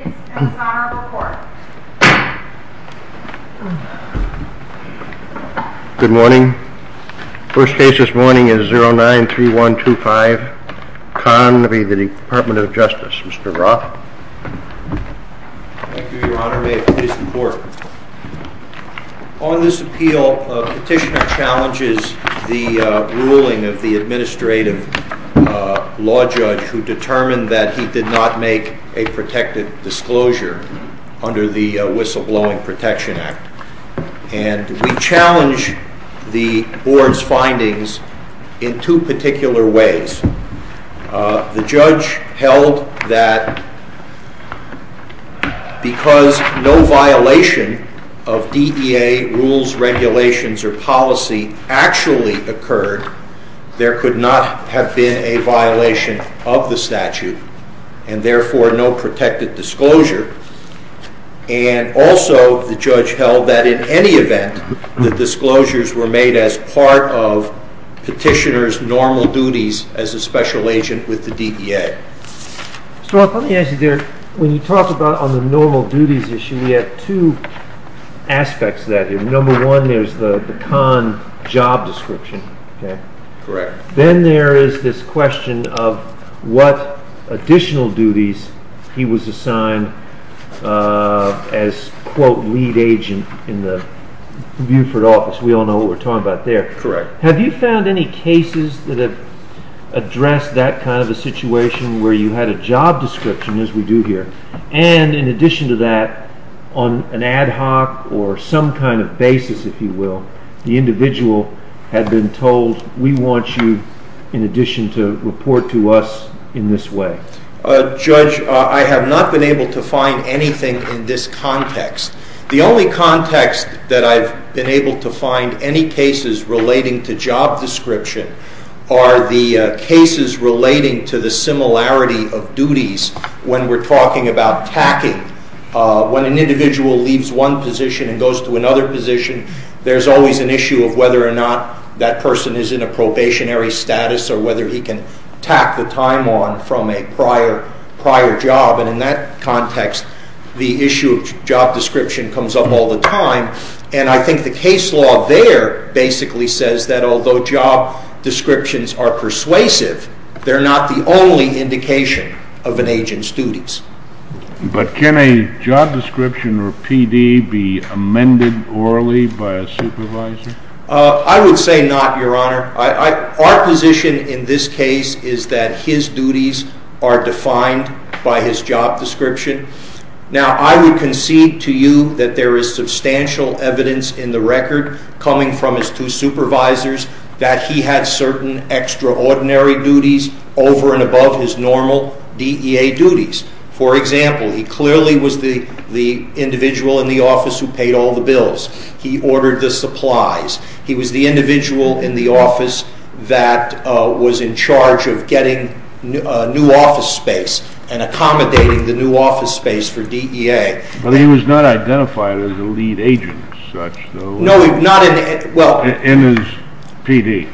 Mr. Roth. Thank you, Your Honor. May it please the Court. On this appeal, a petitioner challenges the ruling of the Administrative Law Judge who determined that he did not make a protected disclosure under the Whistleblowing Protection Act. And we challenge the Board's findings in two particular ways. The judge held that because no violation of DEA rules, regulations, or policy actually occurred, there could not have been a violation of the statute, and therefore no protected disclosure. And also, the judge held that in any event, the disclosures were made as part of petitioner's normal duties as a special agent with the DEA. Mr. Roth, let me ask you, when you talk about the normal duties issue, you have two aspects to that here. Number one, there's the Kahn job description. Then there is this question of what additional duties he was assigned as, quote, lead agent in the Buford office. We all know what we're talking about there. Have you found any cases that have addressed that kind of a situation where you had a job description, as we do here, and in addition to that, on an ad hoc or some kind of basis, if you will, the individual had been told, we want you, in addition, to report to us in this way? Judge, I have not been able to find anything in this context. The only context that I've been able to find any cases relating to job description are the cases relating to the individual leaves one position and goes to another position, there's always an issue of whether or not that person is in a probationary status or whether he can tack the time on from a prior job. In that context, the issue of job description comes up all the time. I think the case law there basically says that although job descriptions are persuasive, they're not the only indication of an agent's duties. But can a job description or PD be amended orally by a supervisor? I would say not, Your Honor. Our position in this case is that his duties are defined by his job description. Now, I would concede to you that there is substantial evidence in the record coming from his two supervisors that he had certain extraordinary duties over and above his normal DEA duties. For example, he clearly was the individual in the office who paid all the bills. He ordered the supplies. He was the individual in the office that was in charge of getting new office space and accommodating the new office space for DEA. But he was not identified as a lead agent as such, though? No, not in the... In his PD?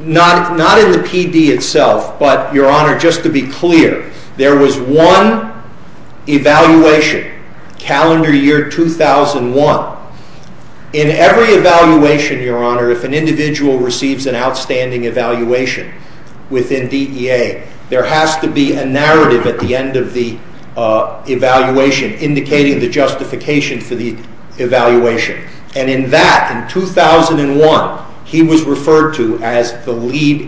Not in the PD itself, but, Your Honor, just to be clear, there was one evaluation, calendar year 2001. In every evaluation, Your Honor, if an individual receives an outstanding evaluation within DEA, there has to be a narrative at the end of the evaluation indicating the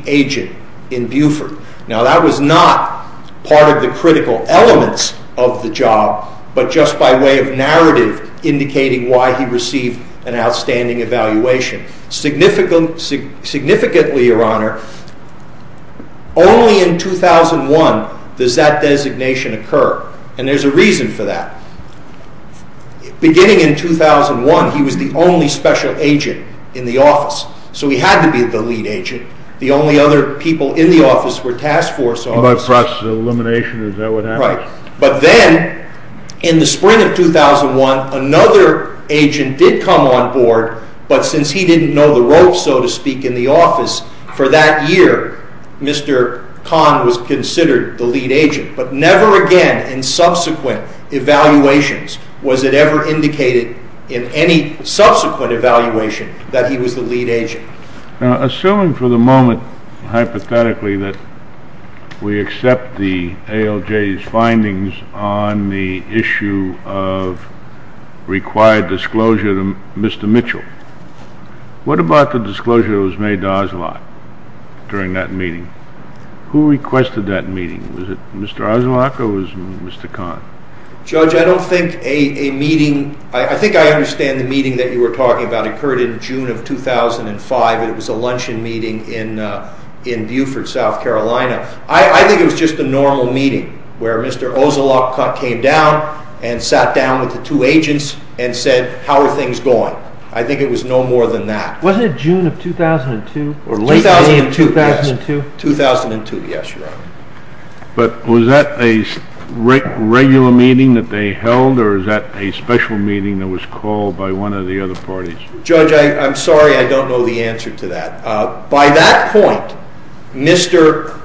agent in Buford. Now, that was not part of the critical elements of the job, but just by way of narrative indicating why he received an outstanding evaluation. Significantly, Your Honor, only in 2001 does that designation occur, and there is a reason for that. Beginning in 2001, he was the only special agent in the office, so he had to be the lead agent. The only other people in the office were task force officers. By process of elimination, is that what happened? Right. But then, in the spring of 2001, another agent did come on board, but since he didn't know the ropes, so to speak, in the office, for that year, Mr. Kahn was considered the evaluations. Was it ever indicated in any subsequent evaluation that he was the lead agent? Now, assuming for the moment, hypothetically, that we accept the ALJ's findings on the issue of required disclosure to Mr. Mitchell, what about the disclosure that was made to Oslok during that meeting? Who requested that meeting? Was it Mr. Oslok or was it Mr. Kahn? Judge, I don't think a meeting, I think I understand the meeting that you were talking about occurred in June of 2005, and it was a luncheon meeting in Beaufort, South Carolina. I think it was just a normal meeting where Mr. Oslok came down and sat down with the two agents and said, how are things going? I think it was no more than that. Wasn't it June of 2002? 2002, yes. Or late May of 2002? Was that a regular meeting that they held or was that a special meeting that was called by one of the other parties? Judge, I'm sorry, I don't know the answer to that. By that point, Mr.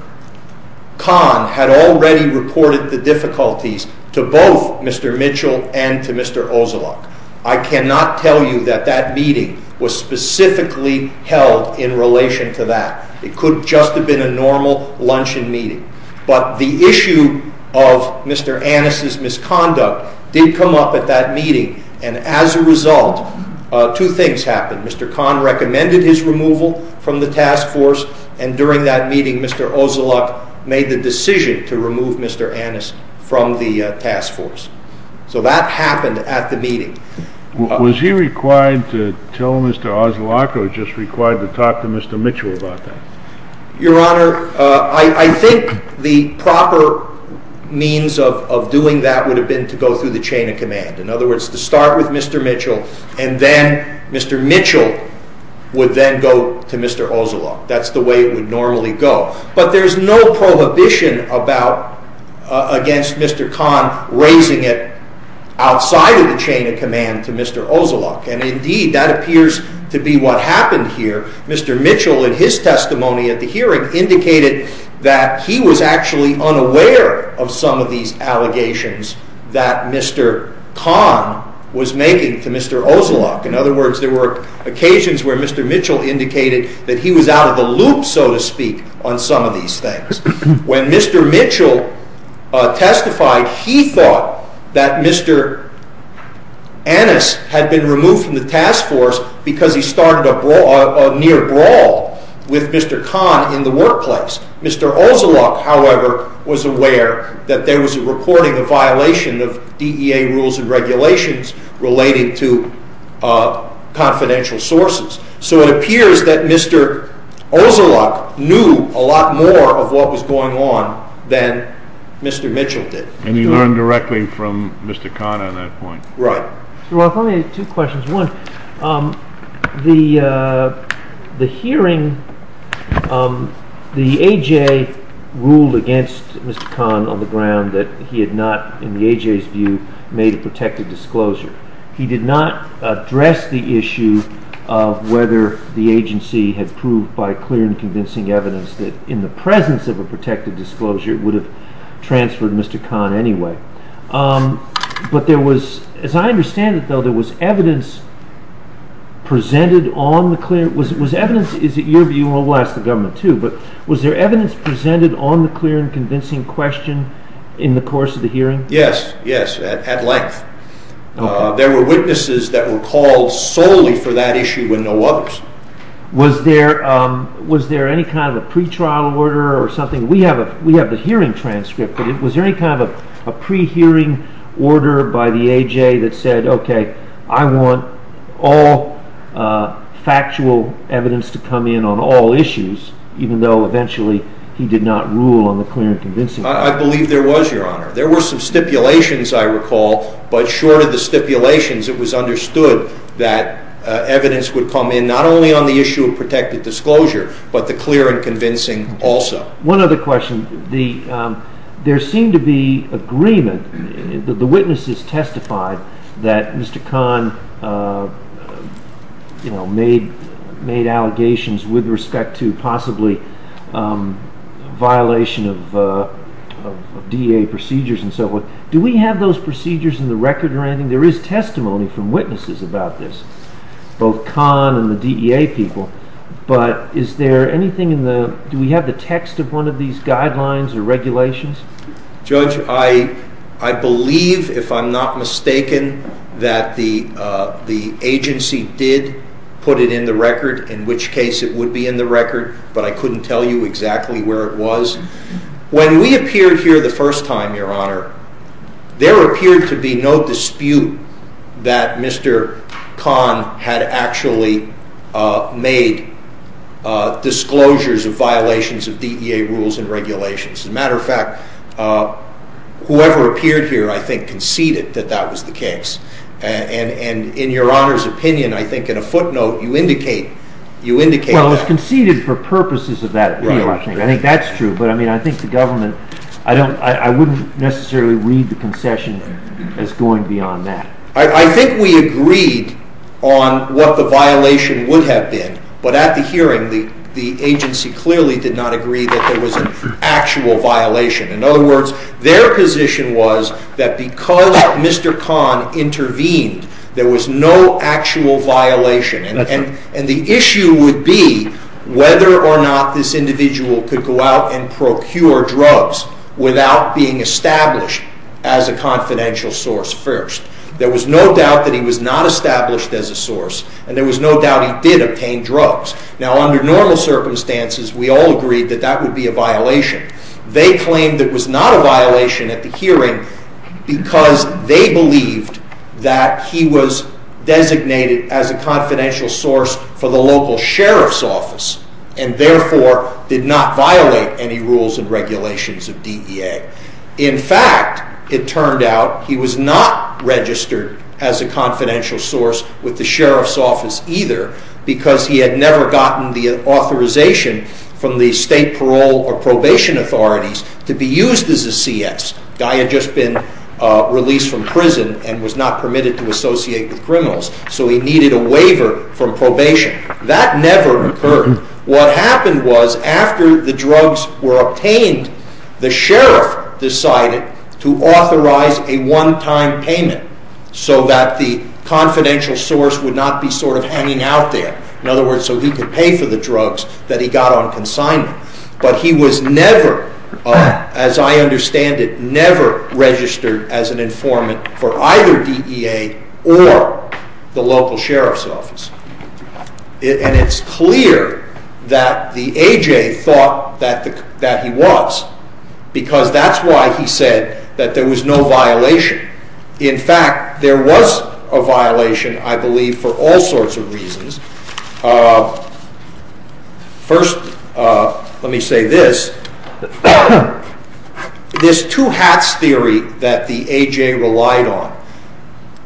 Kahn had already reported the difficulties to both Mr. Mitchell and to Mr. Oslok. I cannot tell you that that meeting was specifically held in relation to that. It could just have been a normal luncheon meeting. But the issue of Mr. Annis' misconduct did come up at that meeting, and as a result, two things happened. Mr. Kahn recommended his removal from the task force, and during that meeting, Mr. Oslok made the decision to remove Mr. Annis from the task force. So that happened at the meeting. Was he required to tell Mr. Oslok or just required to talk to Mr. Mitchell about that? Your Honor, I think the proper means of doing that would have been to go through the chain of command. In other words, to start with Mr. Mitchell, and then Mr. Mitchell would then go to Mr. Oslok. That's the way it would normally go. But there's no prohibition against Mr. Kahn raising it outside of the chain of command to Mr. Oslok, and indeed, that appears to be what happened here. Mr. Mitchell, in his testimony at the hearing, indicated that he was actually unaware of some of these allegations that Mr. Kahn was making to Mr. Oslok. In other words, there were occasions where Mr. Mitchell indicated that he was out of the loop, so to speak, on some of these things. When Mr. Mitchell testified, he thought that Mr. Annis had been removed from the task force because he started a near brawl with Mr. Kahn in the workplace. Mr. Oslok, however, was aware that there was a recording of violation of DEA rules and regulations relating to confidential sources. So it appears that Mr. Oslok knew a lot more of what was going on than Mr. Mitchell did. And he learned directly from Mr. Kahn on that point? Right. Your Honor, two questions. One, the hearing, the A.J. ruled against Mr. Kahn on the ground that he had not, in the A.J.'s view, made a protected disclosure. He did not address the issue of whether the agency had proved by clear and convincing evidence that in the presence of a protected disclosure, it transferred Mr. Kahn anyway. But there was, as I understand it though, there was evidence presented on the clear, was evidence, is it your view, we'll ask the government too, but was there evidence presented on the clear and convincing question in the course of the hearing? Yes, yes, at length. There were witnesses that were called solely for that issue and no others. Was there any kind of a pretrial order or something? We have the hearing transcript, but was there any kind of a pre-hearing order by the A.J. that said, okay, I want all factual evidence to come in on all issues, even though eventually he did not rule on the clear and convincing? I believe there was, Your Honor. There were some stipulations, I recall, but short of the stipulations, it was understood that evidence would come in, not only on the issue of protected disclosure, but the clear and convincing also. One other question. There seemed to be agreement, the witnesses testified that Mr. Kahn made allegations with respect to possibly violation of DEA procedures and so forth. Do we have those procedures in the record or anything? There is testimony from witnesses about this, both Kahn and the DEA people, but do we have the text of one of these guidelines or regulations? Judge, I believe, if I'm not mistaken, that the agency did put it in the record, in which case it would be in the record, but I couldn't tell you exactly where it was. When we appeared here the first time, Your Honor, there appeared to be no dispute that Mr. Kahn had actually made disclosures of violations of DEA rules and regulations. As a matter of fact, whoever appeared here, I think, conceded that that was the case, and in Your Honor's opinion, I think, in a footnote, you indicate that. Well, it was conceded for purposes of that I wouldn't necessarily read the concession as going beyond that. I think we agreed on what the violation would have been, but at the hearing, the agency clearly did not agree that there was an actual violation. In other words, their position was that because Mr. Kahn intervened, there was no actual violation, and the issue would be whether or not this individual could go out and procure drugs without being established as a confidential source first. There was no doubt that he was not established as a source, and there was no doubt he did obtain drugs. Now, under normal circumstances, we all agreed that that would be a violation. They claimed it was not a violation at the hearing because they believed that he was designated as a confidential source for the local Sheriff's Office, and therefore did not violate any rules and regulations of DEA. In fact, it turned out he was not registered as a confidential source with the Sheriff's Office either because he had never gotten the authorization from the State Parole or Probation Authorities to be used as a CS. The guy had just been released from prison and was not permitted to associate with criminals, so he needed a waiver from probation. That never occurred. What happened was after the drugs were obtained, the Sheriff decided to authorize a one-time payment so that the confidential source would not be sort of hanging out there. In other words, so he could pay for the drugs that he got on consignment. But he was never, as I understand it, never registered as an informant for either DEA or the local Sheriff's Office. And it's clear that the A.J. thought that he was, because that's why he said that there was no violation. In fact, there was a violation, I believe, for all sorts of reasons. First, let me say this. This two-hats theory that the A.J. relied on,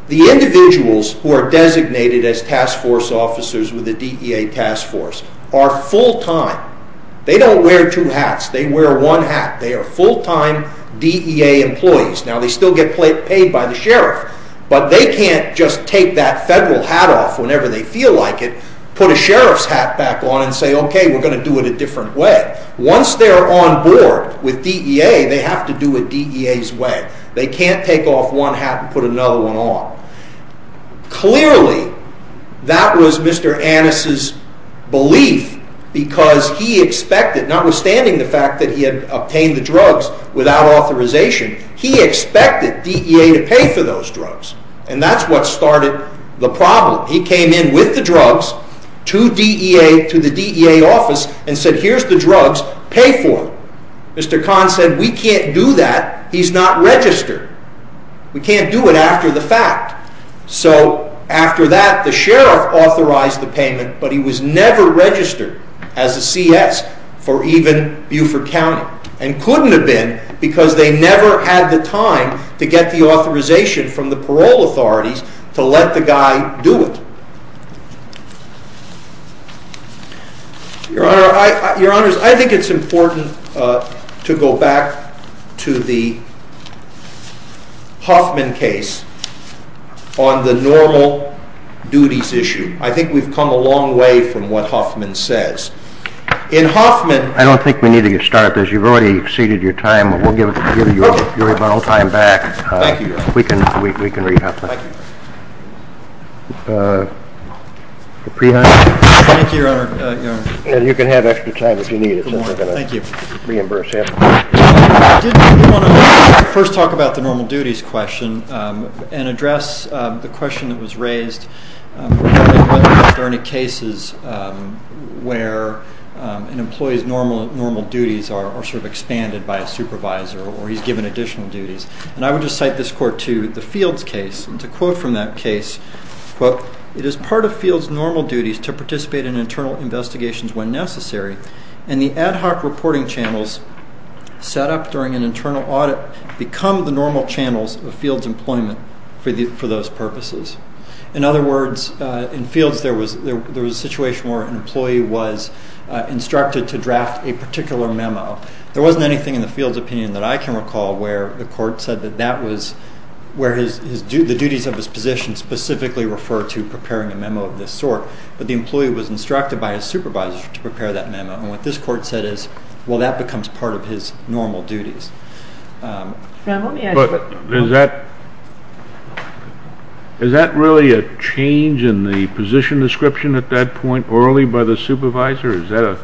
the individuals who are designated as task force officers with the DEA task force are full-time. They don't wear two hats. They wear one hat. They are full-time DEA employees. Now, they still get paid by the Sheriff, but they can't just take that federal hat off whenever they feel like it, put a Sheriff's hat back on, and say, okay, we're going to do it a different way. Once they're on board with DEA, they have to do it DEA's way. They can't take off one hat and put another one on. Clearly, that was Mr. Annis' belief, because he expected, notwithstanding the drugs without authorization, he expected DEA to pay for those drugs, and that's what started the problem. He came in with the drugs to the DEA office and said, here's the drugs, pay for them. Mr. Kahn said, we can't do that. He's not registered. We can't do it after the fact. So, after that, the Sheriff authorized the payment, but he was never registered as a C.S. for even Beaufort County, and couldn't have been, because they never had the time to get the authorization from the parole authorities to let the guy do it. Your Honors, I think it's important to go back to the Huffman case on the normal duties issue. I think we've come a long way from what Huffman says. In Huffman... I don't think we need to get started, because you've already exceeded your time, but we'll give you your rebuttal time back. Thank you, Your Honor. We can read Huffman. Thank you. Thank you, Your Honor. And you can have extra time if you need it, since we're going to reimburse him. Thank you. Did you want to first talk about the normal duties question, and address the question that was raised regarding whether there are any cases where an employee's normal duties are sort of expanded by a supervisor, or he's given additional duties. And I would just cite this court to the Fields case, and to quote from that case, quote, It is part of Fields' normal duties to participate in internal investigations when necessary, and the ad hoc reporting channels set up during an internal audit become the normal channels of Fields' employment for those purposes. In other words, in Fields, there was a situation where an employee was instructed to draft a particular memo. There wasn't anything in the Fields' opinion that I can recall where the court said that that was where the duties of his position specifically refer to preparing a memo of this sort. But the employee was instructed by his supervisor to prepare that memo. And what this court said is, well, that becomes part of his normal duties. Now, let me ask you... Is that really a change in the position description at that point orally by the supervisor? Is that a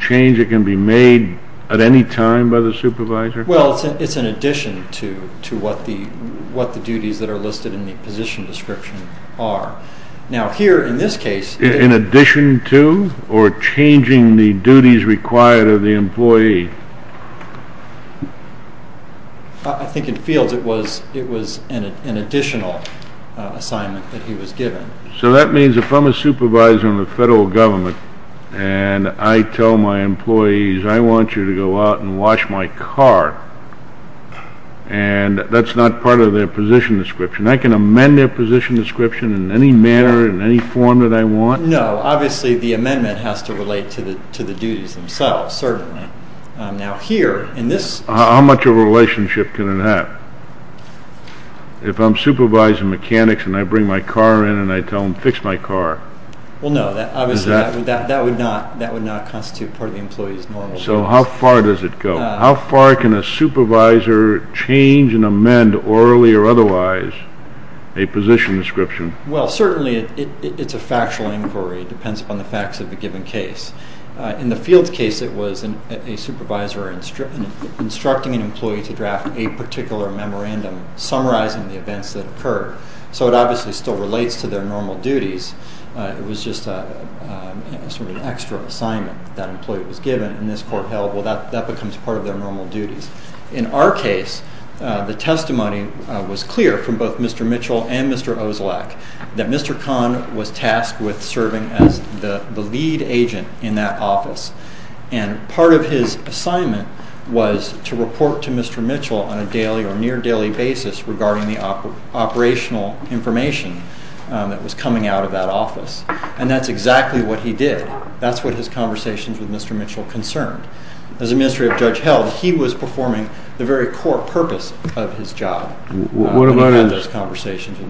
change that can be made at any time by the supervisor? Well, it's in addition to what the duties that are listed in the position description are. Now here, in this case... In addition to, or changing the duties required of the employee? I think in Fields, it was an additional assignment that he was given. So that means if I'm a supervisor in the federal government and I tell my employees, I want you to go out and wash my car, and that's not part of their position description, I can amend their position description in any manner, in any form that I want? No. Obviously, the amendment has to relate to the duties themselves, certainly. Now here, in this... How much of a relationship can it have? If I'm supervising mechanics and I bring my car in and I tell them, fix my car? Well, no. Obviously, that would not constitute part of the employee's normal duties. So how far does it go? How far can a supervisor change and amend, orally or otherwise, a position description? Well, certainly, it's a factual inquiry. It depends upon the facts of the given case. In the Fields case, it was a supervisor instructing an employee to draft a particular memorandum summarizing the events that occurred. So it obviously still relates to their normal duties. It was just sort of an extra assignment that employee was given. And this court held, well, that becomes part of their normal duties. In our case, the testimony was clear from both Mr. Mitchell and Mr. Ozlak that Mr. Kahn was tasked with serving as the lead agent in that office. And part of his assignment was to report to Mr. Mitchell on a daily or near-daily basis regarding the operational information that was coming out of that office. And that's exactly what he did. That's what his conversations with Mr. Mitchell concerned. As the Ministry of Judge held, he was performing the very core purpose of his job. What about his reporting to Mr.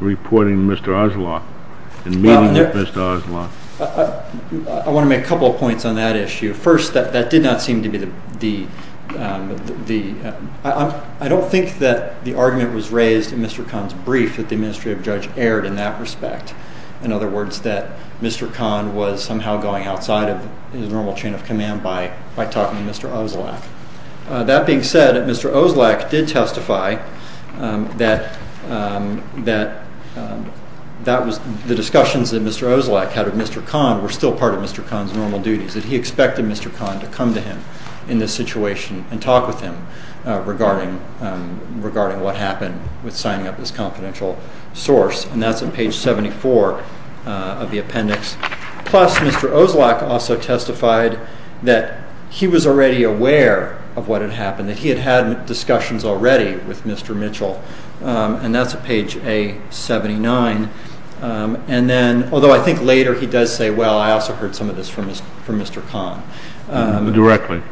Ozlak and meeting with Mr. Ozlak? I want to make a couple of points on that issue. First, that did not seem to be the... I don't think that the argument was raised in Mr. Kahn's brief that the Ministry of Judge erred in that respect. In other words, that Mr. Kahn was somehow going outside of his normal chain of command by talking to Mr. Ozlak. That being said, Mr. Ozlak did testify that the discussions that Mr. Ozlak had with Mr. Kahn were still part of Mr. Kahn's normal duties, that he expected Mr. Kahn to come to him in this situation and talk with him regarding what happened with signing up this confidential source. And that's on page 74 of the appendix. Plus, Mr. Ozlak also testified that he was already aware of what had happened, that he had had discussions already with Mr. Mitchell. And that's on page A79. And then, although I think later he does say, well, I also heard some of this from Mr. Kahn. Directly.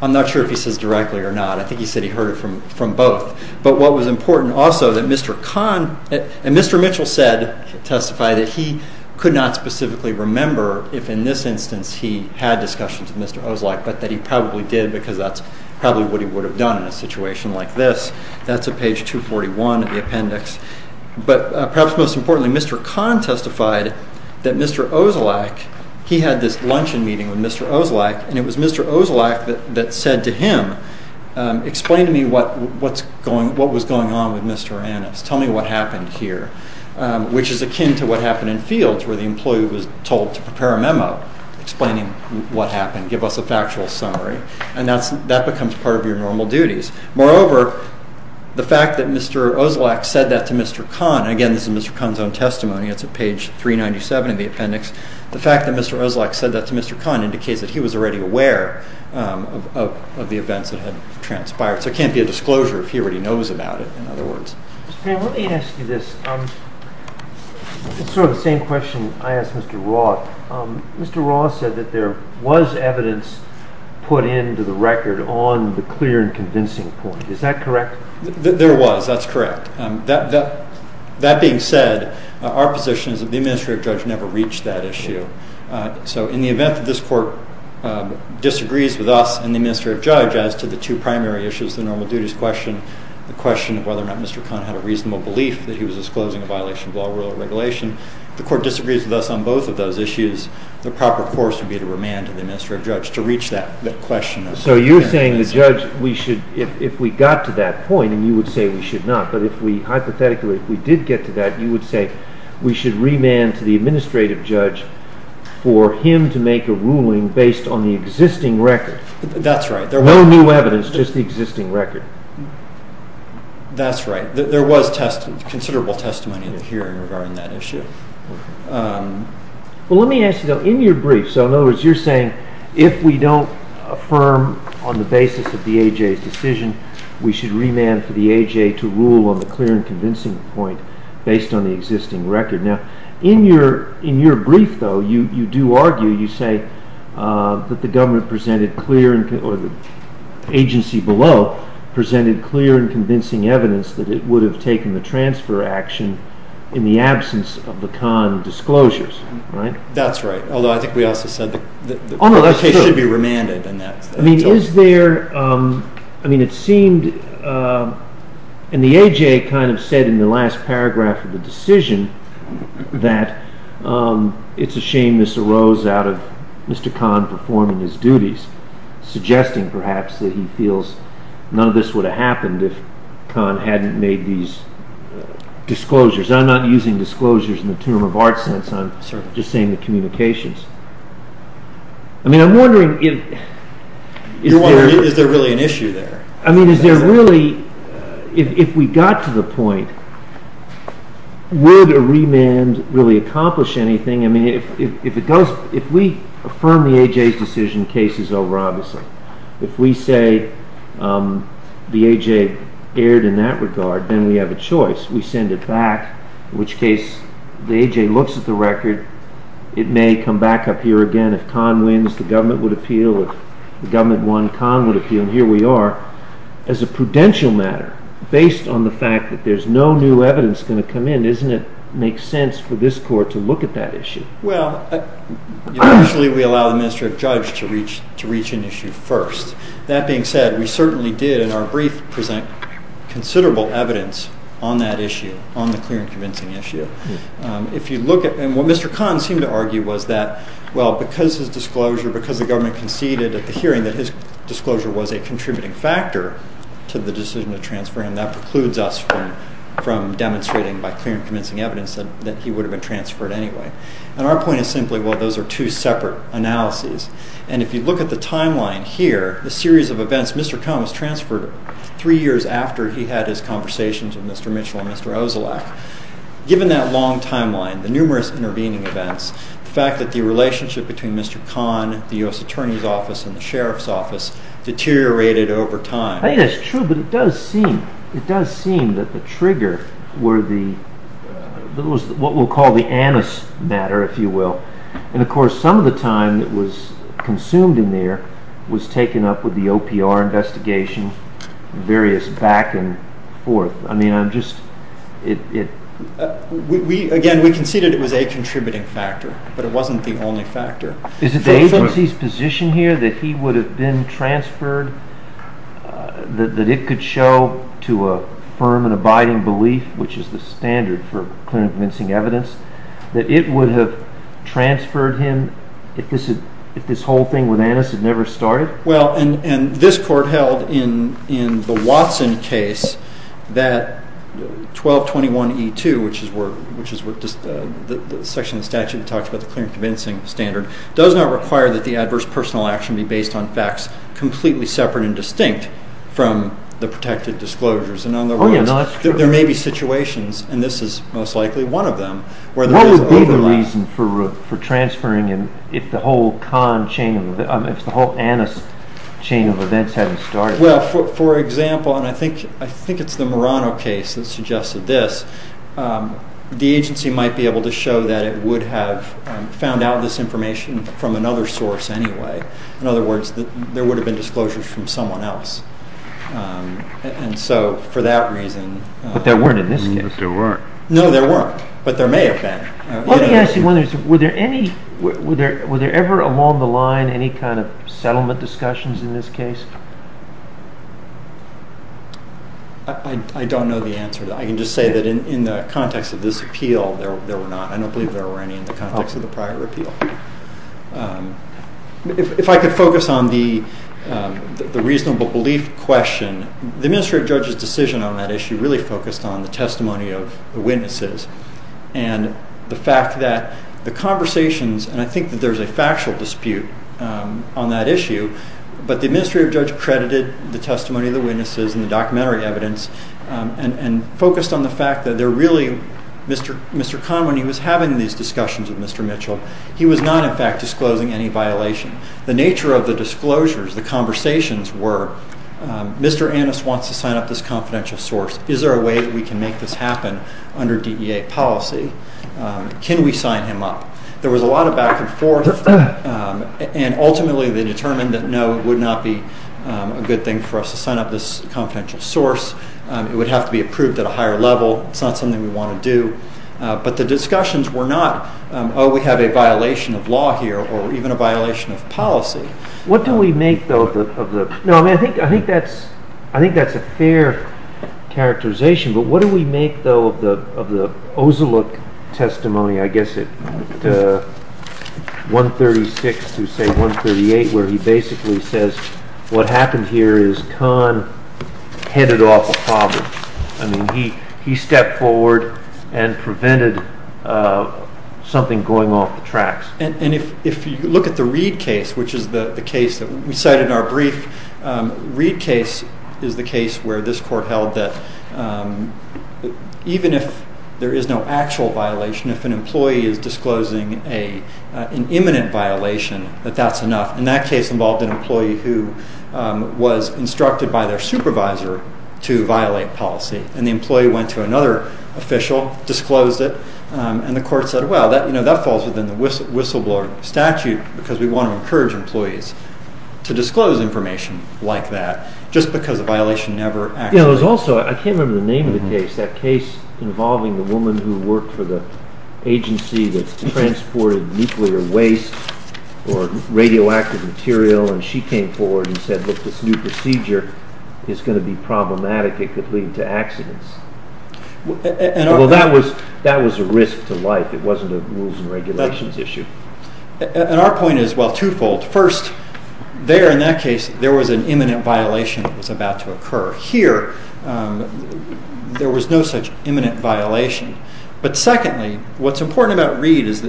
I'm not sure if he says directly or not. I think he said he heard it from both. But what was important also, that Mr. Kahn and Mr. Mitchell testified that he could not specifically remember if in this instance he had discussions with Mr. Ozlak, but that he probably did, because that's probably what he would have done in a situation like this. That's on page 241 of the appendix. But perhaps most importantly, Mr. Kahn testified that Mr. Ozlak, he had this luncheon meeting with Mr. Ozlak, and it was Mr. Ozlak that said to him, explain to me what was going on with Mr. Annis. Tell me what happened here. Which is akin to what happened in Fields, where the employee was told to prepare a memo explaining what happened. Give us a factual summary. And that becomes part of your normal duties. Moreover, the fact that Mr. Ozlak said that to Mr. Kahn, again, this is Mr. Kahn's own testimony. It's on page 397 of the appendix. The fact that Mr. Ozlak said that to Mr. Kahn indicates that he was already aware of the events that had transpired. So it can't be a disclosure if he already knows about it, in other words. Mr. Payne, let me ask you this. It's sort of the same question I asked Mr. Raw. Mr. Raw said that there was evidence put into the record on the clear and convincing point. Is that correct? There was. That's correct. That being said, our position is that the administrative judge never reached that issue. So in the event that this court disagrees with us and the administrative judge as to the two primary issues, the normal duties question, the question of whether or not Mr. Kahn had a reasonable belief that he was disclosing a violation of law, rule, or regulation, if the court disagrees with us on both of those issues, the proper course would be to remand to the administrative judge to reach that question. So you're saying the judge, if we got to that point, and you would say we should not, but if we hypothetically, if we did get to that, you would say we should remand to the administrative judge for him to make a ruling based on the existing record. That's right. No new evidence, just the existing record. That's right. There was considerable testimony in the hearing regarding that issue. Well, let me ask you, though, in your brief, so in other words, you're saying if we don't affirm on the basis of the AJ's decision, we should remand for the AJ to rule on the clear and convincing point based on the existing record. Now, in your brief, though, you do argue, you say that the government presented clear or the agency below presented clear and convincing evidence that it would have taken the transfer action in the absence of the Kahn disclosures, right? That's right. Although I think we also said that the case should be remanded. I mean, is there, I mean, it seemed, and the AJ kind of said in the last paragraph of the decision that it's a shame this arose out of Mr. Kahn performing his duties. Suggesting, perhaps, that he feels none of this would have happened if Kahn hadn't made these disclosures. I'm not using disclosures in the term of art sense. I'm just saying the communications. I mean, I'm wondering if... You're wondering, is there really an issue there? I mean, is there really, if we got to the point, would a remand really accomplish anything? I mean, if it goes, if we affirm the AJ's decision, case is over, obviously. If we say the AJ erred in that regard, then we have a choice. We send it back, in which case the AJ looks at the record. It may come back up here again. If Kahn wins, the government would appeal. If the government won, Kahn would appeal. And here we are, as a prudential matter, based on the fact that there's no new evidence going to come in. Doesn't it make sense for this court to look at that issue? Well, usually we allow the Ministry of Judge to reach an issue first. That being said, we certainly did, in our brief, present considerable evidence on that issue, on the clear and convincing issue. If you look at, and what Mr. Kahn seemed to argue was that, well, because his disclosure, because the government conceded at the hearing that his disclosure was a contributing factor to the decision to transfer him, that precludes us from demonstrating, by clear and convincing evidence, that he would have been transferred anyway. And our point is simply, well, those are two separate analyses. And if you look at the timeline here, the series of events, Mr. Kahn was transferred three years after he had his conversations with Mr. Mitchell and Mr. Ozelak. Given that long timeline, the numerous intervening events, the fact that the relationship between Mr. Kahn, the U.S. Attorney's Office, and the Sheriff's Office deteriorated over time. I think that's true, but it does seem that the trigger were the, what we'll call the anise matter, if you will. And of course, some of the time that was consumed in there was taken up with the OPR investigation, various back and forth. I mean, I'm just, it... Again, we conceded it was a contributing factor, but it wasn't the only factor. Is it the agency's position here that he would have been transferred, that it could show to a firm and abiding belief, which is the standard for clear and convincing evidence, that it would have transferred him if this whole thing with anise had never started? Well, and this court held in the Watson case that 1221E2, which is where, which is what the section of the statute talks about the clear and convincing standard, does not require that the adverse personal action be based on facts completely separate and distinct from the protected disclosures. And in other words, there may be situations, and this is most likely one of them, where there is overlap. What would be the reason for transferring and if the whole con chain, if the whole anise chain of events hadn't started? Well, for example, and I think it's the Murano case that suggested this, the agency might be able to show that it would have found out this information from another source anyway. In other words, there would have been disclosures from someone else. And so for that reason... But there weren't in this case. There weren't. No, there weren't. But there may have been. Let me ask you one thing. Were there any, were there ever along the line any kind of settlement discussions in this case? I don't know the answer to that. I can just say that in the context of this appeal, there were not. I don't believe there were any in the context of the prior appeal. If I could focus on the reasonable belief question, the administrative judge's decision on that issue really focused on the testimony of the witnesses and the fact that the conversations, and I think that there's a factual dispute on that issue, but the administrative judge credited the testimony of the witnesses and the documentary evidence and focused on the fact that they're really... Mr. Kahn, when he was having these discussions with Mr. Mitchell, he was not in fact disclosing any violation. The nature of the disclosures, the conversations were Mr. Annis wants to sign up this confidential source. Is there a way that we can make this happen under DEA policy? Can we sign him up? There was a lot of back and forth and ultimately they determined that no, it would not be a good thing for us to sign up this confidential source. It would have to be approved at a higher level. It's not something we want to do. But the discussions were not, oh, we have a violation of law here or even a violation of policy. What do we make though of the... No, I mean, I think that's a fair characterization, but what do we make though of the Oziluk testimony, I guess at 136 to say 138, where he basically says what happened here is Kahn headed off a problem. I mean, he stepped forward and prevented something going off the tracks. And if you look at the Reed case, which is the case that we cited in our brief, Reed case is the case where this court held that even if there is no actual violation, if an employee is disclosing an imminent violation, that that's enough. And that case involved an employee who was instructed by their supervisor to violate policy. And the employee went to another official, disclosed it. And the court said, well, that falls within the whistleblower statute because we want to encourage employees to disclose information like that just because a violation never actually... You know, there's also, I can't remember the name of the case, that case involving the woman who worked for the agency that transported nuclear waste or radioactive material. And she came forward and said, this new procedure is going to be problematic. It could lead to accidents. Well, that was a risk to life. It wasn't a rules and regulations issue. And our point is, well, twofold. First, there in that case, there was an imminent violation that was about to occur. Here, there was no such imminent violation. But secondly, what's important about Reed is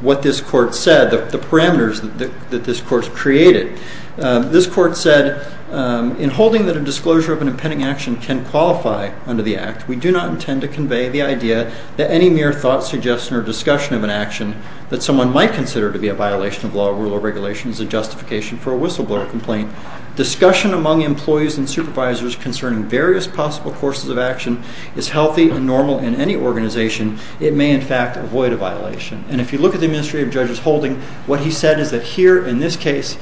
what this court said, the parameters that this court created. This court said, in holding that a disclosure of an impending action can qualify under the act, we do not intend to convey the idea that any mere thought, suggestion, or discussion of an action that someone might consider to be a violation of law, rule, or regulation is a justification for a whistleblower complaint. Discussion among employees and supervisors concerning various possible courses of action is healthy and normal in any organization. It may, in fact, avoid a violation. And if you look at the administrative judge's holding, what he said is that here in this case,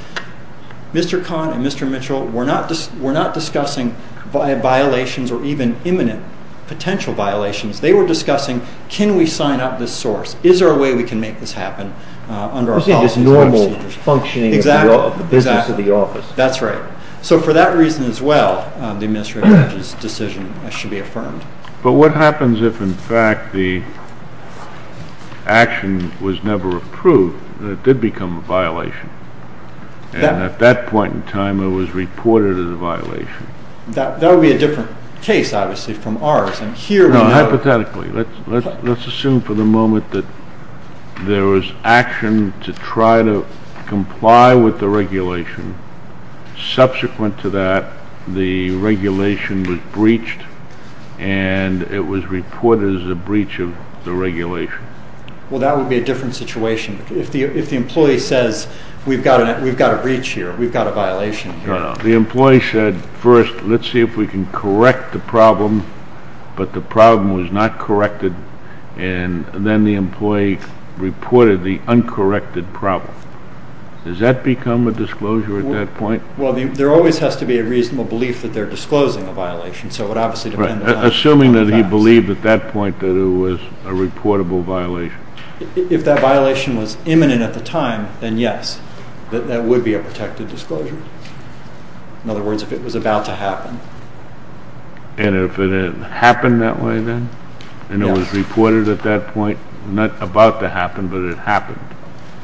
Mr. Kahn and Mr. Mitchell were not discussing violations or even imminent potential violations. They were discussing, can we sign up this source? Is there a way we can make this happen under our policies and procedures? I think it's normal functioning of the business of the office. That's right. So for that reason as well, the administrative judge's decision should be affirmed. But what happens if, in fact, the action was never approved and it did become a violation? And at that point in time, it was reported as a violation. That would be a different case, obviously, from ours. And here we know... Hypothetically. Let's assume for the moment that there was action to try to comply with the regulation. Subsequent to that, the regulation was breached and it was reported as a breach of the regulation. Well, that would be a different situation. If the employee says, we've got a breach here, we've got a violation here. The employee said, first, let's see if we can correct the problem. But the problem was not corrected. And then the employee reported the uncorrected problem. Does that become a disclosure at that point? Well, there always has to be a reasonable belief that they're disclosing a violation. So it would obviously depend on... Assuming that he believed at that point that it was a reportable violation. If that violation was imminent at the time, then yes, that would be a protected disclosure. In other words, if it was about to happen. And if it happened that way then, and it was reported at that point, not about to happen, but it happened.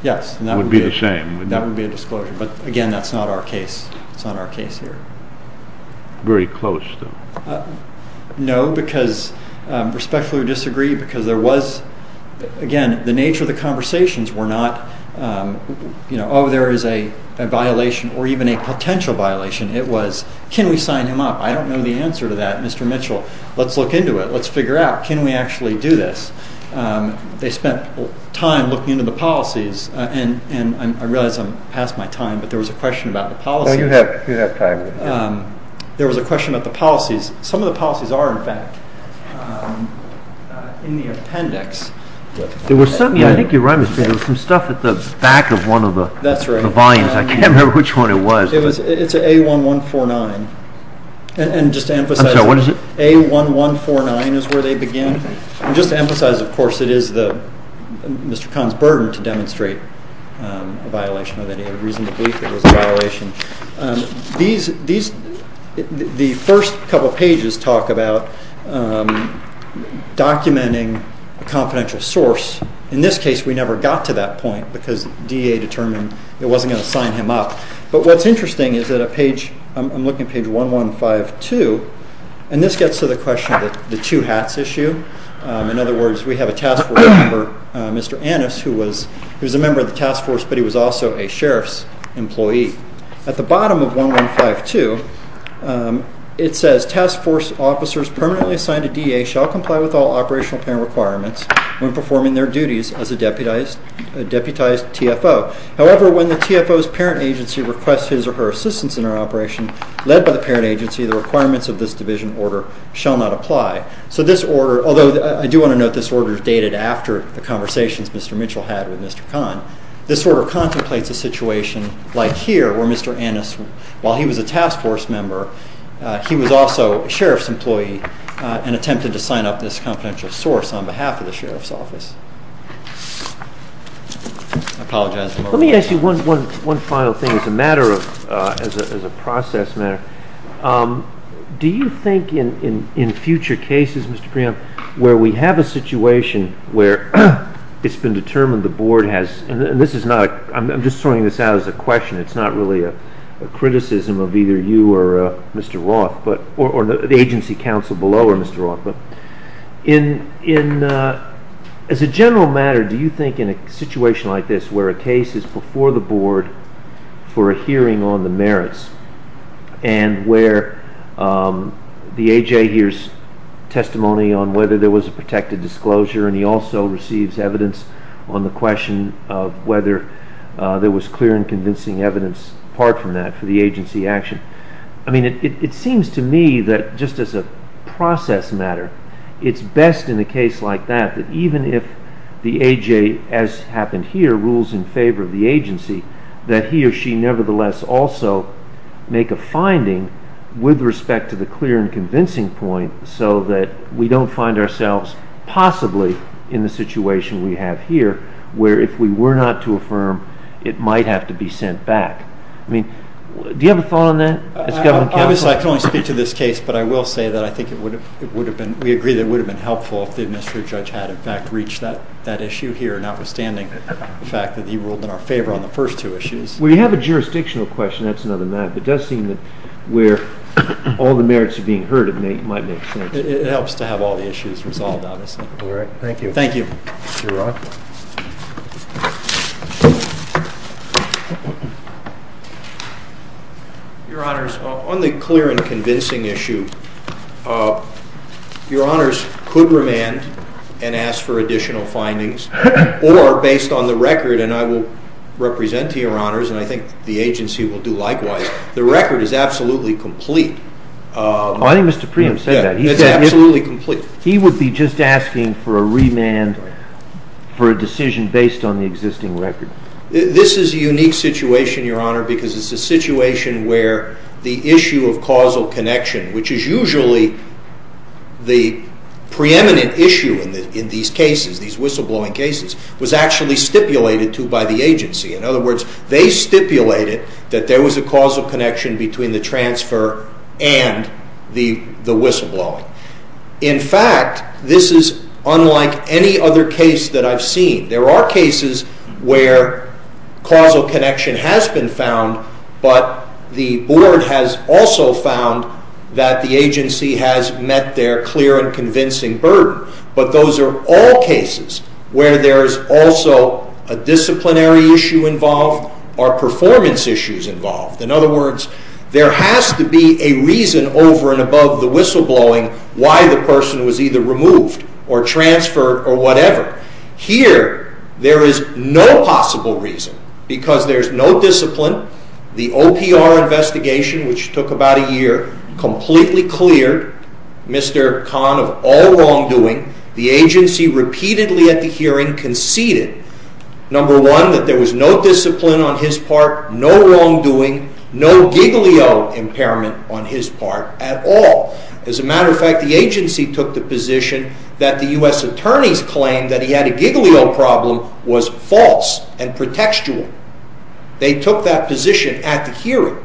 Yes, and that would be the same. That would be a disclosure. But again, that's not our case. It's not our case here. Very close though. No, because respectfully we disagree because there was... Again, the nature of the conversations were not, you know, oh, there is a violation or even a potential violation. It was, can we sign him up? I don't know the answer to that, Mr. Mitchell. Let's look into it. Let's figure out, can we actually do this? They spent time looking into the policies and I realize I'm past my time, but there was a question about the policy. Oh, you have time. There was a question about the policies. Some of the policies are in fact in the appendix. There was something, I think you're right, Mr. Petty, there was some stuff at the back of one of the volumes. I can't remember which one it was. It's A1149. And just to emphasize... I'm sorry, what is it? A1149 is where they begin. And just to emphasize, of course, it is Mr. Kahn's burden to demonstrate a violation or that he had a reason to believe it was a violation. The first couple of pages talk about documenting a confidential source. In this case, we never got to that point because DEA determined it wasn't going to sign him up. But what's interesting is that a page, I'm looking at page 1152, and this gets to the question of the two hats issue. In other words, we have a task force member, Mr. Annis, who was a member of the task force, but he was also a sheriff's employee. At the bottom of 1152, it says task force officers permanently assigned to DEA shall comply with all operational plan requirements when performing their duties as a deputized TFO. However, when the TFO's parent agency requests his or her assistance in an operation led by the parent agency, the requirements of this division order shall not apply. So this order, although I do want to note this order is dated after the conversations Mr. Mitchell had with Mr. Kahn, this order contemplates a situation like here where Mr. Annis, while he was a task force member, he was also a sheriff's employee and attempted to sign up this confidential source on behalf of the sheriff's office. Let me ask you one final thing as a process matter. Do you think in future cases, Mr. Priam, where we have a situation where it's been determined the board has, and I'm just throwing this out as a question, it's not really a criticism of either you or Mr. Roth, or the agency counsel below or Mr. Roth, but as a general matter, do you think in a situation like this where a case is before the board for a hearing on the merits and where the AJ hears testimony on whether there was a protected disclosure and he also receives evidence on the question of whether there was clear and convincing evidence apart from that for the agency action. I mean, it seems to me that just as a process matter, it's best in a case like that, that even if the AJ, as happened here, rules in favor of the agency, that he or she nevertheless also make a finding with respect to the clear and convincing point so that we don't find ourselves possibly in the situation we have here where if we were not to affirm, it might have to be sent back. I mean, do you have a thought on that? As government counsel? Obviously, I can only speak to this case, but I will say that I think it would have been, we agree that it would have been helpful if the administrative judge had in fact reached that issue here, notwithstanding the fact that he ruled in our favor on the first two issues. We have a jurisdictional question, that's another matter, but it does seem that where all the merits are being heard, it might make sense. It helps to have all the issues resolved, obviously. All right, thank you. Thank you. Your honors, on the clear and convincing issue, your honors could remand and ask for additional findings or based on the record, and I will represent to your honors and I think the agency will do likewise, the record is absolutely complete. I think Mr. Preem said that. It's absolutely complete. He would be just asking for a remand for a decision based on the existing record. This is a unique situation, your honor, because it's a situation where the issue of causal connection, which is usually the preeminent issue in these cases, these whistleblowing cases, was actually stipulated to by the agency. In other words, they stipulated that there was a causal connection between the transfer and the whistleblowing. In fact, this is unlike any other case that I've seen. There are cases where causal connection has been found, but the board has also found that the agency has met their clear and convincing burden. But those are all cases where there is also a disciplinary issue involved or performance issues involved. In other words, there has to be a reason over and above the whistleblowing why the person was either removed or transferred or whatever. Here, there is no possible reason because there's no discipline. The OPR investigation, which took about a year, completely cleared Mr. Khan of all wrongdoing. The agency repeatedly at the hearing conceded, number one, that there was no discipline on his part, no wrongdoing, no giglio impairment on his part at all. As a matter of fact, the agency took the position that the U.S. attorney's claim that he had a giglio problem was false and pretextual. They took that position at the hearing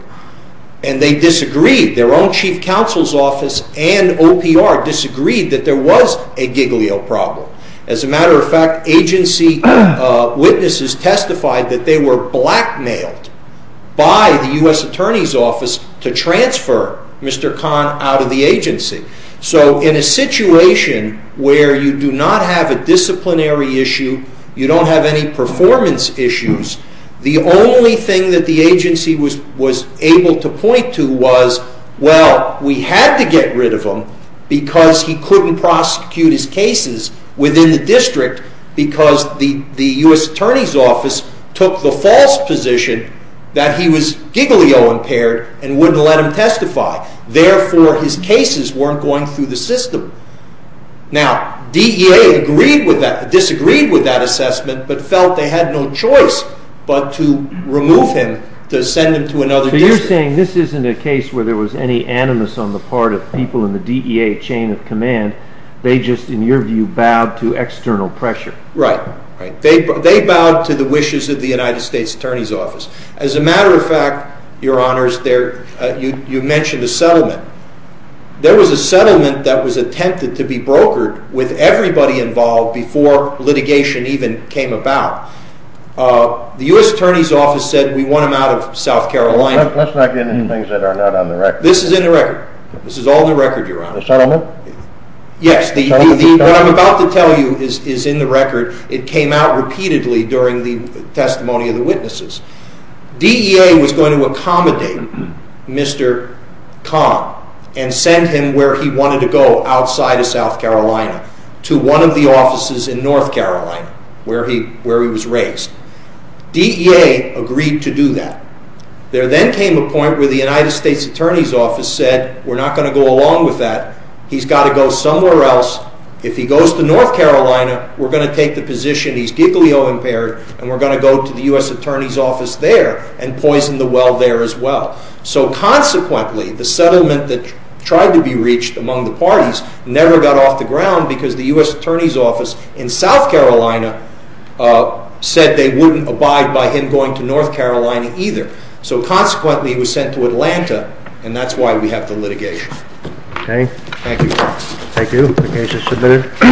and they disagreed. Their own chief counsel's office and OPR disagreed that there was a giglio problem. As a matter of fact, agency witnesses testified that they were blackmailed by the U.S. attorney's office to transfer Mr. Khan out of the agency. In a situation where you do not have a disciplinary issue, you don't have any performance issues, the only thing that the agency was able to point to was, well, we had to get rid of him because he couldn't prosecute his cases within the district because the U.S. attorney's office took the false position that he was giglio impaired and wouldn't let him testify. Therefore, his cases weren't going through the system. Now, DEA disagreed with that assessment but felt they had no choice but to remove him to send him to another district. So you're saying this isn't a case where there was any animus on the part of people in the DEA chain of command. They just, in your view, bowed to external pressure. Right. They bowed to the wishes of the United States attorney's office. As a matter of fact, your honors, you mentioned a settlement. There was a settlement that was attempted to be brokered with everybody involved before litigation even came about. The U.S. attorney's office said, we want him out of South Carolina. Let's not get into things that are not on the record. This is in the record. This is all in the record, your honor. The settlement? Yes, what I'm about to tell you is in the record. It came out repeatedly during the testimony of the witnesses. DEA was going to accommodate Mr. Khan and send him where he wanted to go outside of South Carolina to one of the offices in North Carolina where he was raised. DEA agreed to do that. There then came a point where the United States attorney's office said, we're not going to go along with that. He's got to go somewhere else. If he goes to North Carolina, we're going to take the position he's giglio impaired and we're going to go to the U.S. attorney's office there and poison the well there as well. So consequently, the settlement that tried to be reached among the parties never got off the ground because the U.S. attorney's office in South Carolina said they wouldn't abide by him going to North Carolina either. So consequently, he was sent to Atlanta and that's why we have the litigation. Okay. Thank you. Thank you. The case is submitted.